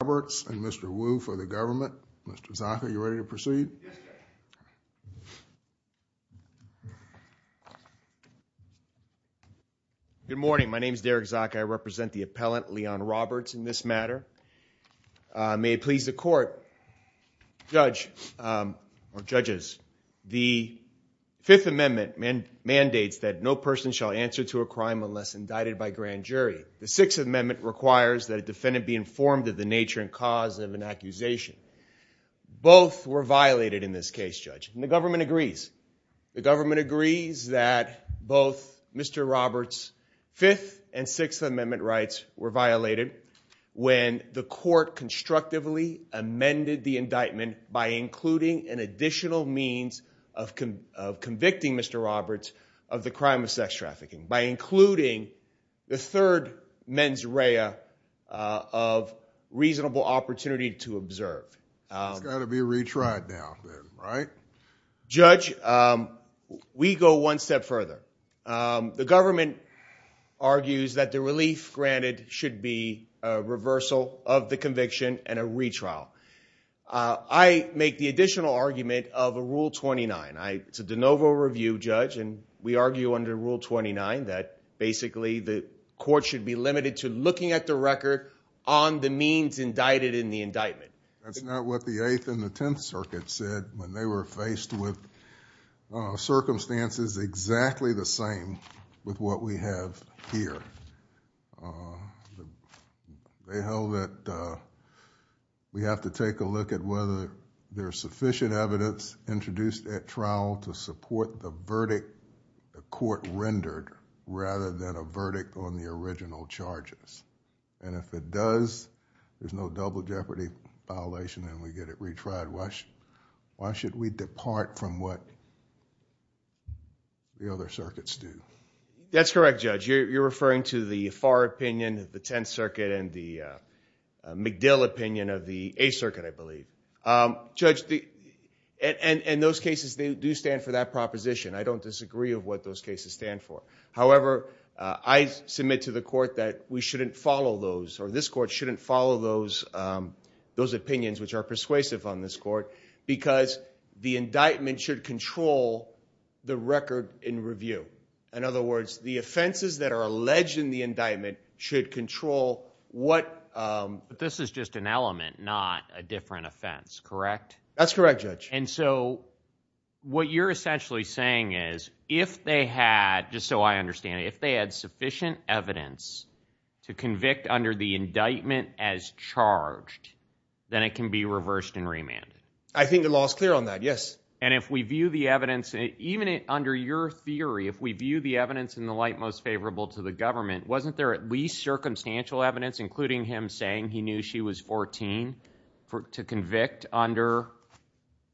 and Mr. Wu for the government. Mr. Zaka, are you ready to proceed? Yes, Judge. Good morning. My name is Derek Zaka. I represent the appellant, Leon Roberts, in this matter. May it please the Court, Judge, or Judges, the Fifth Amendment mandates that no person shall answer to a crime unless indicted by grand jury. The Sixth Amendment requires that a defendant be informed of the nature and cause of an accusation. Both were violated in this case, Judge. And the government agrees. The government agrees that both Mr. Roberts' Fifth and Sixth Amendment rights were violated when the Court constructively amended the indictment by including an additional means of convicting Mr. Roberts of the crime of sex trafficking by including the third mens rea of reasonable opportunity to observe. It's got to be retried now, right? Judge, we go one step further. The government argues that the relief granted should be a reversal of the conviction and a retrial. I make the additional argument of a Rule 29. It's a de novo review, Judge, and we argue under Rule 29 that basically the Court should be limited to looking at the record on the means indicted in the indictment. That's not what the Eighth and the Tenth Circuits said when they were faced with circumstances exactly the same with what we have here. They held that we have to take a look at whether there's sufficient evidence introduced at trial to support the verdict the Court rendered rather than a verdict on the original charges. And if it does, there's no double jeopardy violation and we get it retried. Why should we depart from what the other circuits do? That's correct, Judge. You're referring to the Farr opinion of the Tenth Circuit and the McDill opinion of the Eighth Circuit, I believe. Judge, and those cases do stand for that proposition. I don't disagree of what those cases stand for. However, I submit to the Court that we shouldn't follow those, or this Court shouldn't follow those opinions which are persuasive on this Court because the indictment should control the record in review. In other words, the offenses that are alleged in the indictment should control what... But this is just an element, not a different offense, correct? That's correct, Judge. And so what you're essentially saying is if they had, just so I understand, if they had sufficient evidence to convict under the indictment as charged, then it can be reversed and remanded. I think the law's clear on that, yes. And if we view the evidence, even under your theory, if we view the evidence in the light most favorable to the government, wasn't there at least circumstantial evidence, including him saying he knew she was 14, to convict under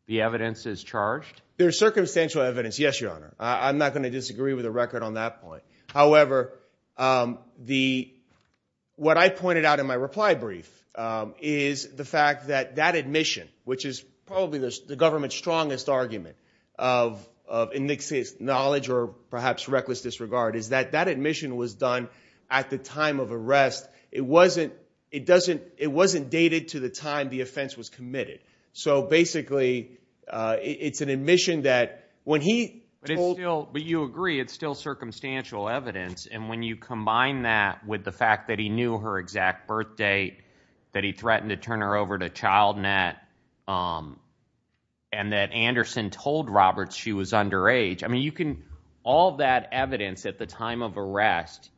the evidence as charged? There's circumstantial evidence, yes, Your Honor. I'm not going to disagree with the record on that point. However, what I pointed out in my reply brief is the fact that that admission, which is probably the government's strongest argument of knowledge or perhaps reckless disregard, is that that admission was done at the time of arrest. It wasn't dated to the time the offense was committed. So basically it's an admission that when he told... But you agree it's still circumstantial evidence. And when you combine that with the fact that he knew her exact birth date, that he threatened to turn her over to child net, and that Anderson told Roberts she was underage, I mean, you can, all that evidence at the time of arrest,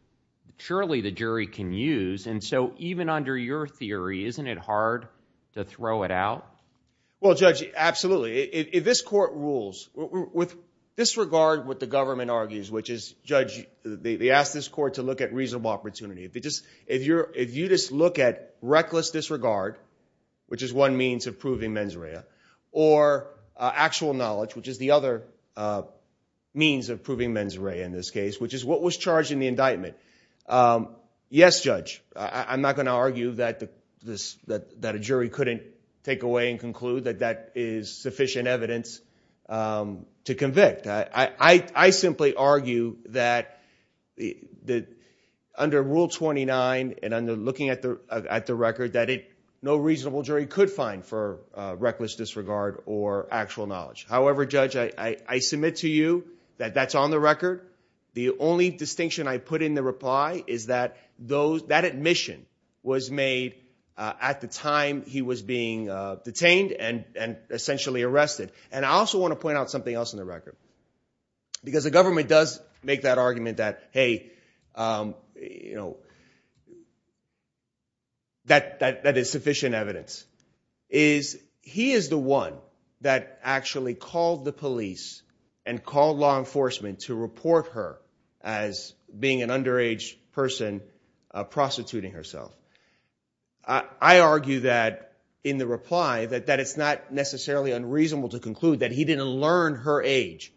surely the jury can use. And so even under your theory, isn't it hard to throw it out? Well, Judge, absolutely. If this court rules with disregard what the government argues, which is, Judge, they ask this court to look at reasonable opportunity. If you just look at reckless disregard, which is one means of proving mens rea, or actual knowledge, which is the other means of proving mens rea in this case, which is what was charged in the indictment. Yes, Judge. I'm not going to argue that a jury couldn't take away and conclude that that is sufficient evidence to convict. I simply argue that under Rule 29 and under looking at the record, that no reasonable jury could find for reckless disregard or actual knowledge. However, Judge, I submit to you that that's on the record. The only distinction I put in the reply is that that admission was made at the time he was being detained and essentially arrested. And I also want to point out something else in the record. Because the government does make that argument that, hey, you know, that is sufficient evidence. He is the one that actually called the police and called law enforcement to report her as being an underage person prostituting herself. I argue that in the reply that it's not necessarily unreasonable to conclude that he didn't learn her age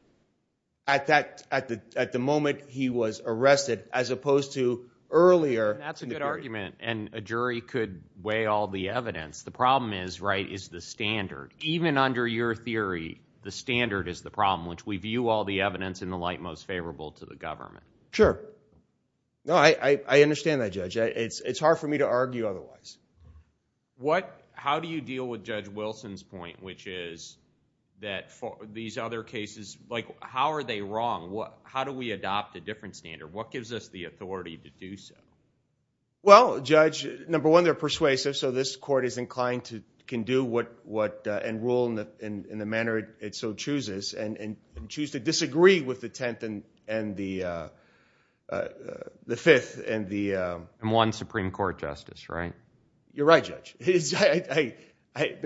at the moment he was arrested, as opposed to earlier. That's a good argument. And a jury could weigh all the evidence. The problem is, right, is the standard. Even under your theory, the standard is the problem, which we view all the evidence in the light most favorable to the government. Sure. No, I understand that, Judge. It's hard for me to argue otherwise. How do you deal with Judge Wilson's point, which is that these other cases, how are they wrong? How do we adopt a different standard? What gives us the authority to do so? Well, Judge, number one, they're persuasive. So this court is inclined to do what and rule in the manner it so chooses and choose to disagree with the 10th and the 5th and the... And one Supreme Court justice, right? You're right, Judge. The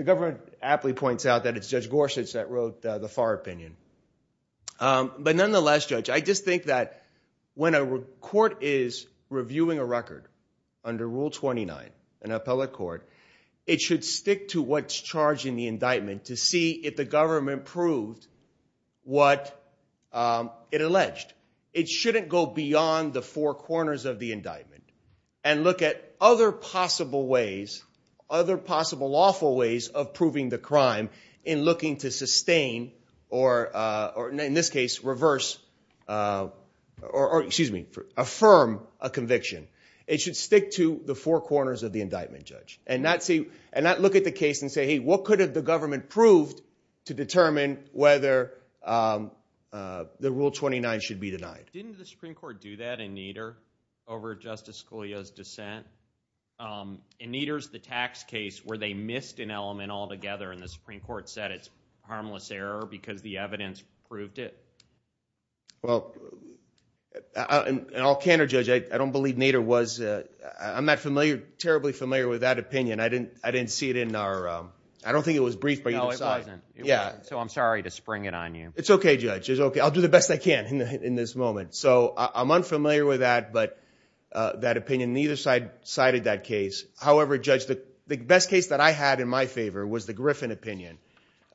government aptly points out that it's Judge Gorsuch that wrote the far opinion. But nonetheless, Judge, I just think that when a court is reviewing a record under Rule 29, an appellate court, it should stick to what's charged in the indictment to see if the government proved what it alleged. It shouldn't go beyond the four corners of the indictment and look at other possible ways, other possible lawful ways of proving the crime in looking to sustain or, in this case, reverse or, excuse me, affirm a conviction. It should stick to the four corners of the indictment, Judge. And not look at the case and say, hey, what could have the government proved to determine whether the Rule 29 should be denied? Didn't the Supreme Court do that in Nader over Justice Scalia's dissent? In Nader's the tax case where they missed an element altogether and the Supreme Court said it's harmless error because the evidence proved it. Well, in all candor, Judge, I don't believe Nader was, I'm not familiar, terribly familiar with that opinion. I didn't see it in our, I don't think it was briefed by either side. So I'm sorry to spring it on you. It's okay, Judge. I'll do the best I can in this moment. So I'm unfamiliar with that opinion. Neither side cited that case. However, Judge, the best case that I had in my favor was the Griffin opinion.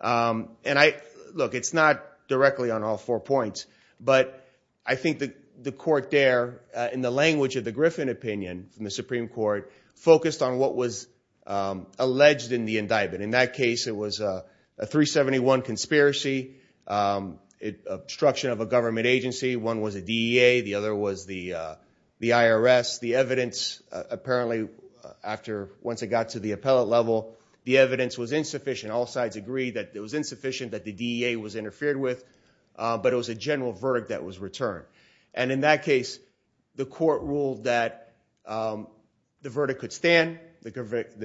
And I, look, it's not directly on all four points. But I think the court there, in the language of the Griffin opinion from the Supreme Court, focused on what was alleged in the indictment. In that case, it was a 371 conspiracy, obstruction of a government agency. One was a DEA. The other was the IRS. The evidence, apparently, after, once it got to the appellate level, the evidence was insufficient. All sides agreed that it was insufficient, that the DEA was interfered with. But it was a general verdict that was returned. And in that case, the court ruled that the verdict could stand. The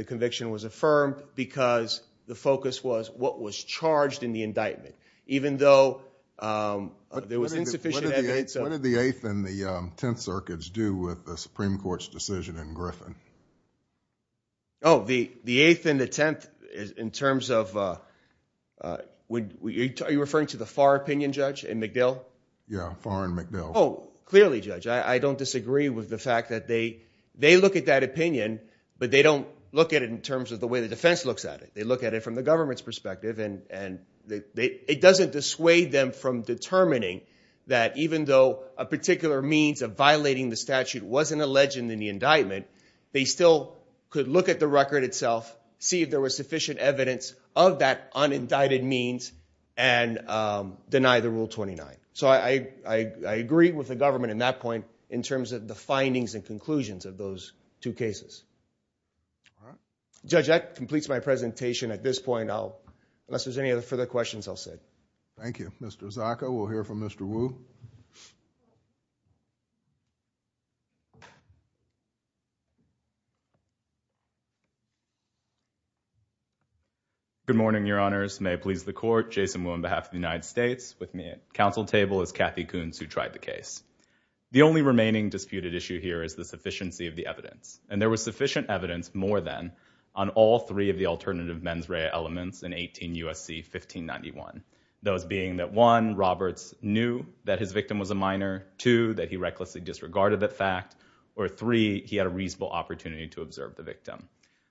conviction was affirmed because the focus was what was charged in the indictment, even though there was insufficient evidence. What did the Eighth and the Tenth Circuits do with the Supreme Court's decision in Griffin? Oh, the Eighth and the Tenth, in terms of, are you referring to the Farr opinion, Judge, and McDill? Yeah, Farr and McDill. Oh, clearly, Judge. I don't disagree with the fact that they look at that opinion, but they don't look at it in terms of the way the defense looks at it. They look at it from the government's perspective. And it doesn't dissuade them from determining that even though a particular means of violating the statute wasn't alleged in the indictment, they still could look at the record itself, see if there was sufficient evidence of that unindicted means, and deny the Rule 29. So I agree with the government in that point, in terms of the findings and conclusions of those two cases. All right. Judge, that completes my presentation at this point. Unless there's any other further questions, I'll sit. Thank you. Mr. Zaka, we'll hear from Mr. Wu. Good morning, Your Honors. May it please the Court, Jason Wu on behalf of the United States. With me at counsel table is Kathy Koons, who tried the case. The only remaining disputed issue here is the question of whether there was sufficient evidence, more than, on all three of the alternative mens rea elements in 18 U.S.C. 1591. Those being that one, Roberts knew that his victim was a minor. Two, that he recklessly disregarded that fact. Or three, he had a reasonable opportunity to observe the victim.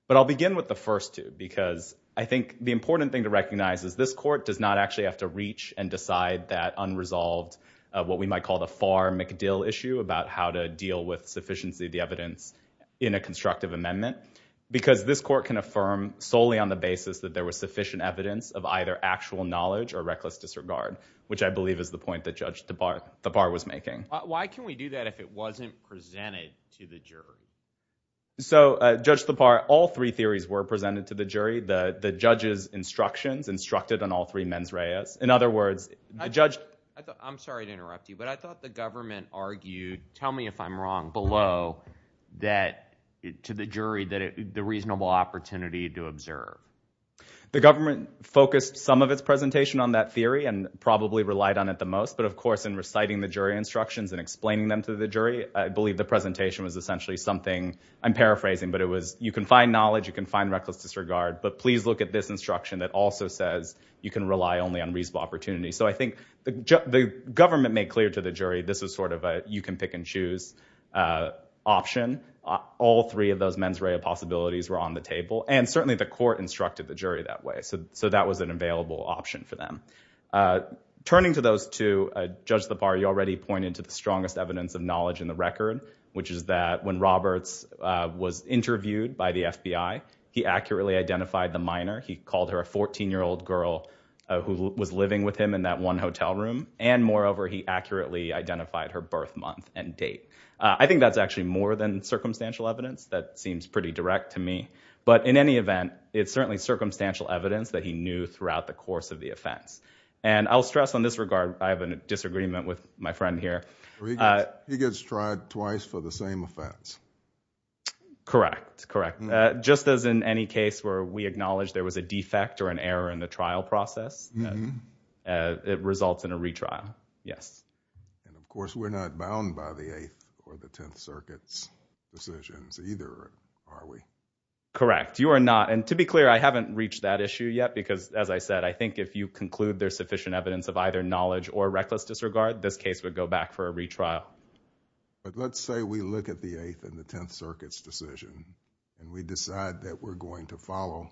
But I'll begin with the first two, because I think the important thing to recognize is this Court does not actually have to reach and decide that unresolved, what we might call the Farr-McDill issue, about how to deal with sufficiency of the evidence in a constructive amendment. Because this Court can affirm solely on the basis that there was sufficient evidence of either actual knowledge or reckless disregard, which I believe is the point that Judge Thapar was making. Why can we do that if it wasn't presented to the jury? So, Judge Thapar, all three theories were presented to the jury. The judge's I'm sorry to interrupt you, but I thought the government argued, tell me if I'm wrong, below that, to the jury, the reasonable opportunity to observe. The government focused some of its presentation on that theory and probably relied on it the most. But of course, in reciting the jury instructions and explaining them to the jury, I believe the presentation was essentially something, I'm paraphrasing, but it was, you can find knowledge, you can find reckless disregard, but please look at this instruction that also says you can rely only on reasonable opportunity. So I think the government made clear to the jury this is sort of a you can pick and choose option. All three of those mens rea possibilities were on the table. And certainly the Court instructed the jury that way. So that was an available option for them. Turning to those two, Judge Thapar, you already pointed to the strongest evidence of knowledge in the record, which is that when Roberts was interviewed by the FBI, he accurately identified the minor. He called her a 14-year-old girl who was living with him in that one hotel room. And moreover, he accurately identified her birth month and date. I think that's actually more than circumstantial evidence. That seems pretty direct to me. But in any event, it's certainly circumstantial evidence that he knew throughout the course of the offense. And I'll stress on this regard, I have a disagreement with my friend here. He gets tried twice for the same offense. Correct. Correct. Just as in any case where we acknowledge there was a defect or an error in the trial process, it results in a retrial. Yes. And of course, we're not bound by the Eighth or the Tenth Circuit's decisions either, are we? Correct. You are not. And to be clear, I haven't reached that issue yet because, as I said, I think if you conclude there's sufficient evidence of either knowledge or reckless disregard, this case would go back for a retrial. But let's say we look at the Eighth and the Tenth Circuit's decision and we decide that we're going to follow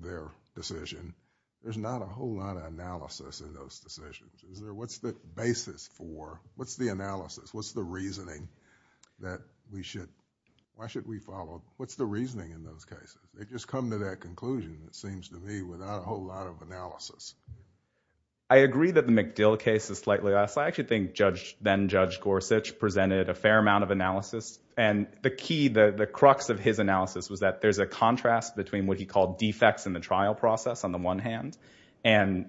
their decision. There's not a whole lot of analysis in those decisions. What's the basis for, what's the analysis, what's the reasoning that we should, why should we have a whole lot of analysis? I agree that the McDill case is slightly less. I actually think Judge, then Judge Gorsuch, presented a fair amount of analysis. And the key, the crux of his analysis was that there's a contrast between what he called defects in the trial process on the one hand and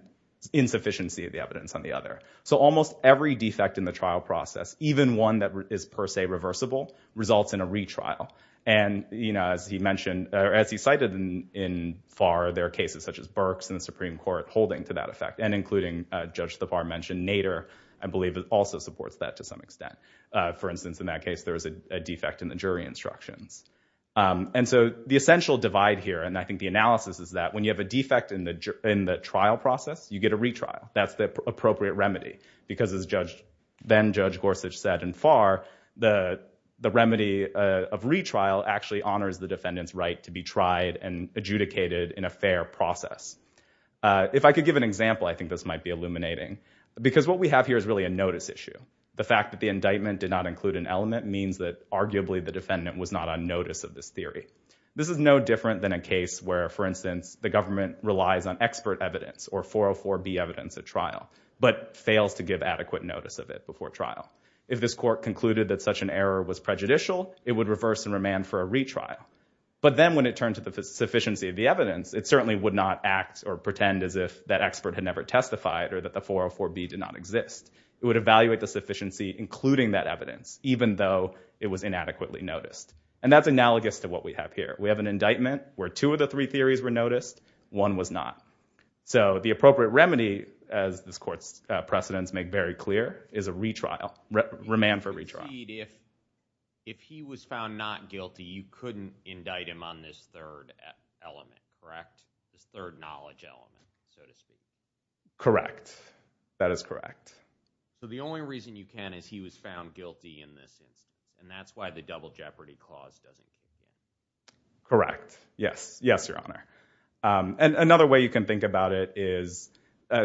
insufficiency of the evidence on the other. So almost every defect in the trial process, even one that is per se reversible, results in a retrial. And, you know, as he mentioned, or as he cited in Farr, there are cases such as Burke's in the Supreme Court holding to that effect and including Judge Thapar mentioned Nader, I believe, also supports that to some extent. For instance, in that case, there was a defect in the jury instructions. And so the essential divide here, and I think the analysis is that when you have a defect in the trial process, you get a retrial. That's the appropriate remedy because, as then Judge Gorsuch said in Farr, the remedy of retrial actually honors the defendant's right to be tried and adjudicated in a fair process. If I could give an example, I think this might be illuminating because what we have here is really a notice issue. The fact that the indictment did not include an element means that arguably the defendant was not on notice of this theory. This is no different than a case where, for instance, the government relies on expert evidence or 404B evidence at trial, but fails to give adequate notice of it before trial. If this court concluded that such an error was prejudicial, it would reverse and remand for a retrial. But then when it turned to the sufficiency of the evidence, it certainly would not act or pretend as if that expert had never testified or that the 404B did not exist. It would evaluate the sufficiency including that evidence, even though it was inadequately noticed. And that's analogous to what we have here. We have an indictment where two of the three theories were noticed. One was not. So the appropriate remedy, as this court's precedents make very clear, is a remand for retrial. If he was found not guilty, you couldn't indict him on this third element, correct? This third knowledge element, so to speak. Correct. That is correct. So the only reason you can is he was found guilty in this instance, and that's why the double jeopardy clause doesn't exist. Correct. Yes. Yes, Your Honor. And another way you can think about it is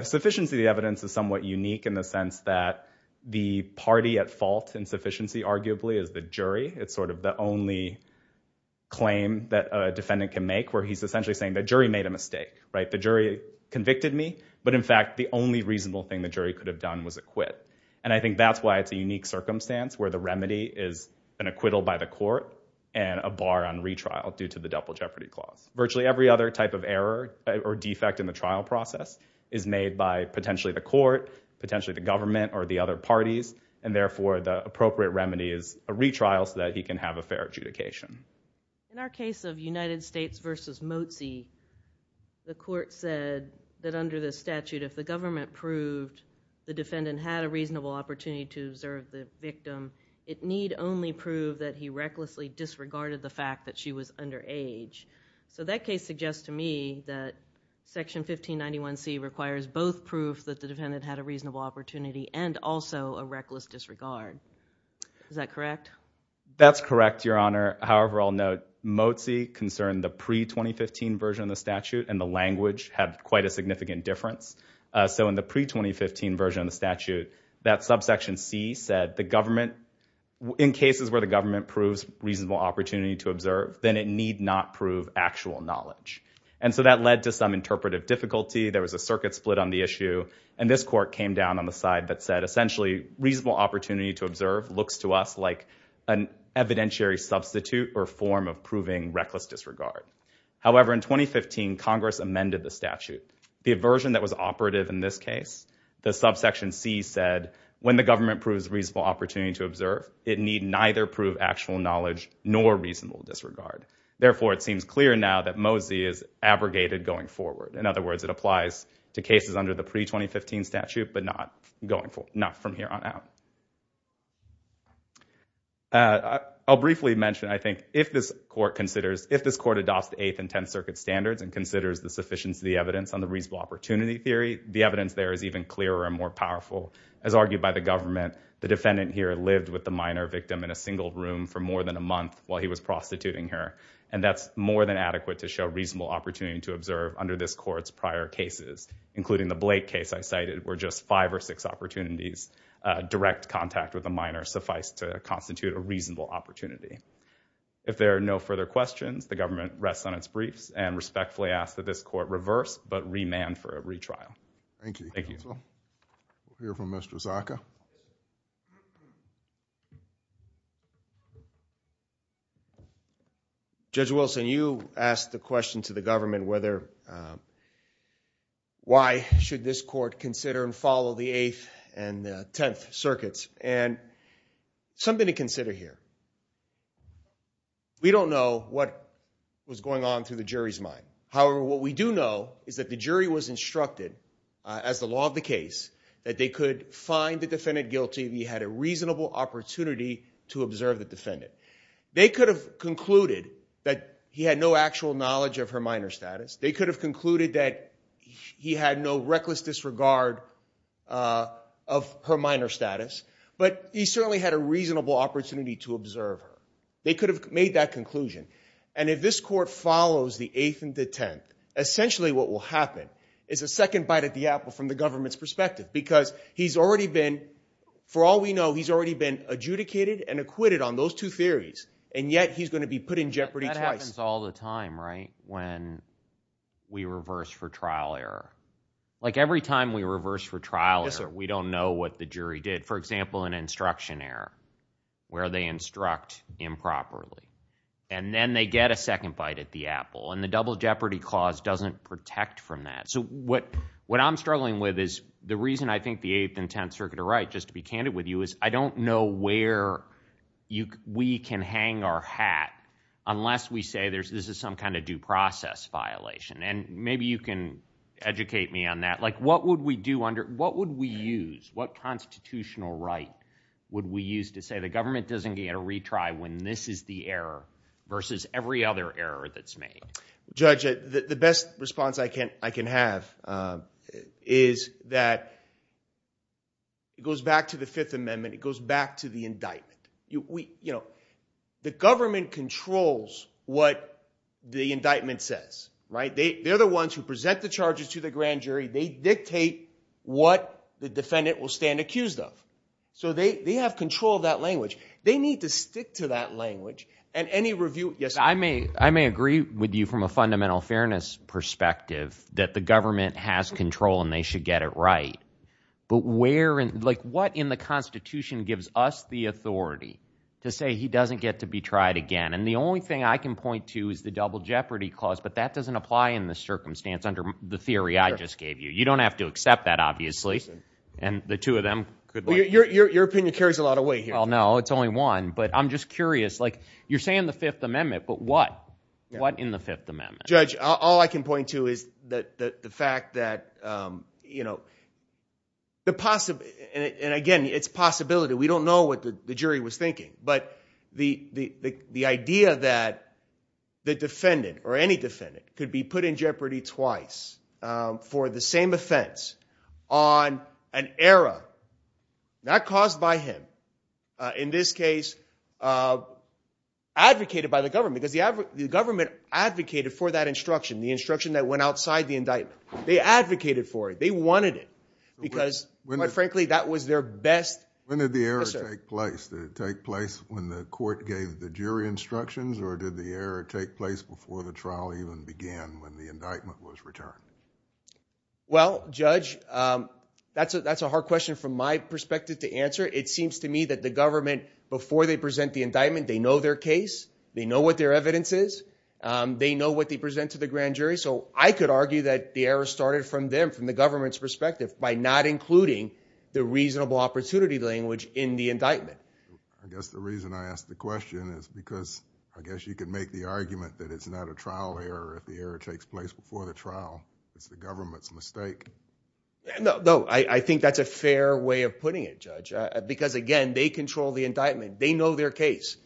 sufficiency of the evidence is somewhat unique in the sense that the party at fault in sufficiency, arguably, is the jury. It's sort of the only claim that a defendant can make where he's essentially saying the jury made a mistake, right? The jury convicted me, but in fact the only reasonable thing the jury could have done was acquit. And I think that's why it's a unique circumstance where the remedy is an acquittal by the court and a bar on retrial due to the double jeopardy clause. Virtually every other type of error or defect in the trial process is made by potentially the court, potentially the government, or the other parties. And therefore, the appropriate remedy is a retrial so that he can have a fair adjudication. In our case of United States v. Mozzi, the court said that under this statute, if the government proved the defendant had a reasonable opportunity to observe the victim, it need only prove that he recklessly disregarded the fact that she was underage. So that case suggests to me that Section 1591C requires both proof that the defendant had a reasonable opportunity and also a reckless disregard. Is that correct? That's correct, Your Honor. However, I'll note, Mozzi concerned the pre-2015 version of the statute, and the language had quite a significant difference. So in the pre-2015 version of the statute, that subsection C said the government, in cases where the government proves reasonable opportunity to observe, then it need not prove actual knowledge. And so that led to some interpretive difficulty. There was a circuit split on the issue, and this court came down on the side that said, essentially, reasonable opportunity to observe looks to us like an evidentiary substitute or form of proving reckless disregard. However, in 2015, Congress amended the statute. The version that was operative in this case, the subsection C said, when the government proves reasonable opportunity to observe, it need neither prove actual knowledge nor reasonable disregard. Therefore, it seems clear now that Mozzi is abrogated going forward. In other words, it applies to cases under the pre-2015 statute, but not from here on out. I'll briefly mention, I think, if this court adopts the Eighth and Tenth Circuit standards and considers the sufficiency of the evidence on the reasonable opportunity theory, the evidence there is even clearer and more powerful. As argued by the government, the defendant here lived with the minor victim in a single room for more than a month while he was prostituting her. And that's more than adequate to show reasonable opportunity to observe under this court's prior cases, including the Blake case I cited, where just five or six opportunities, direct contact with a minor, suffice to constitute a reasonable opportunity. If there are no further questions, the government rests on its briefs and respectfully asks that this court reverse, but remand for a retrial. Judge Wilson, you asked the question to the government, why should this court consider and follow the Eighth and Tenth Circuits? Something to consider here. We don't know what was going on through the jury's mind. However, what we do know is that the jury was instructed, as the law of the case, that they could find the defendant guilty if he had a reasonable opportunity to observe the defendant. They could have concluded that he had no actual knowledge of her minor status. They could have concluded that he had no reckless disregard of her minor status. But he certainly had a reasonable opportunity to observe her. They could have made that conclusion. And if this court follows the Eighth and the Tenth, essentially what will happen is a second bite at the apple from the government's perspective, because he's already been, for all we know, he's already been adjudicated and acquitted on those two theories, and yet he's going to be put in jeopardy twice. That happens all the time, right, when we reverse for trial error. Like every time we reverse for trial error, we don't know what the jury did. For example, an instruction error, where they instruct improperly. And then they get a second bite at the apple. And the double jeopardy clause doesn't protect from that. So what I'm struggling with is the reason I think the Eighth and Tenth Circuit are right, just to be candid with you, is I don't know where we can hang our hat unless we say this is some kind of due process violation. And maybe you can educate me on that. Like what would we do under – what would we use? What constitutional right would we use to say the government doesn't get a retry when this is the error versus every other error that's made? Judge, the best response I can have is that it goes back to the Fifth Amendment. It goes back to the indictment. The government controls what the indictment says. They're the ones who present the charges to the grand jury. They dictate what the defendant will stand accused of. So they have control of that language. They need to stick to that language. And any review – yes? I may agree with you from a fundamental fairness perspective that the government has control and they should get it right. But where – like what in the Constitution gives us the authority to say he doesn't get to be tried again? And the only thing I can point to is the Double Jeopardy Clause, but that doesn't apply in this circumstance under the theory I just gave you. You don't have to accept that, obviously. And the two of them could – Your opinion carries a lot of weight here. Well, no. It's only one. But I'm just curious. Like you're saying the Fifth Amendment, but what? What in the Fifth Amendment? Judge, all I can point to is the fact that the – and again, it's possibility. We don't know what the jury was thinking. But the idea that the defendant or any defendant could be put in jeopardy twice for the same offense on an error not caused by him, in this case advocated by the government because the government advocated for that instruction, the instruction that went outside the indictment. They advocated for it. They wanted it because, quite frankly, that was their best – When did the error take place? Did it take place when the court gave the jury instructions or did the error take place before the trial even began when the indictment was returned? Well, Judge, that's a hard question from my perspective to answer. It seems to me that the government, before they present the indictment, they know their case. They know what their evidence is. They know what they present to the grand jury. So I could argue that the error started from them, from the government's perspective, by not including the reasonable opportunity language in the indictment. I guess the reason I ask the question is because I guess you could make the argument that it's not a trial error if the error takes place before the trial. It's the government's mistake. No, I think that's a fair way of putting it, Judge, because, again, they control the indictment. They know their case.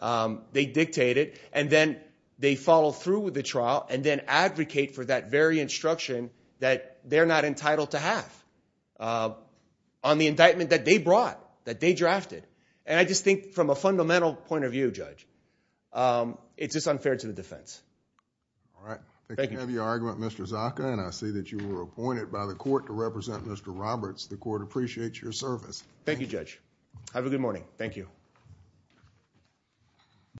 They dictate it, and then they follow through with the trial and then advocate for that very instruction that they're not entitled to have on the indictment that they brought, that they drafted. And I just think from a fundamental point of view, Judge, it's just unfair to the defense. All right. Thank you for the argument, Mr. Zaka, and I see that you were appointed by the court to represent Mr. Roberts. The court appreciates your service. Thank you, Judge. Have a good morning. Thank you.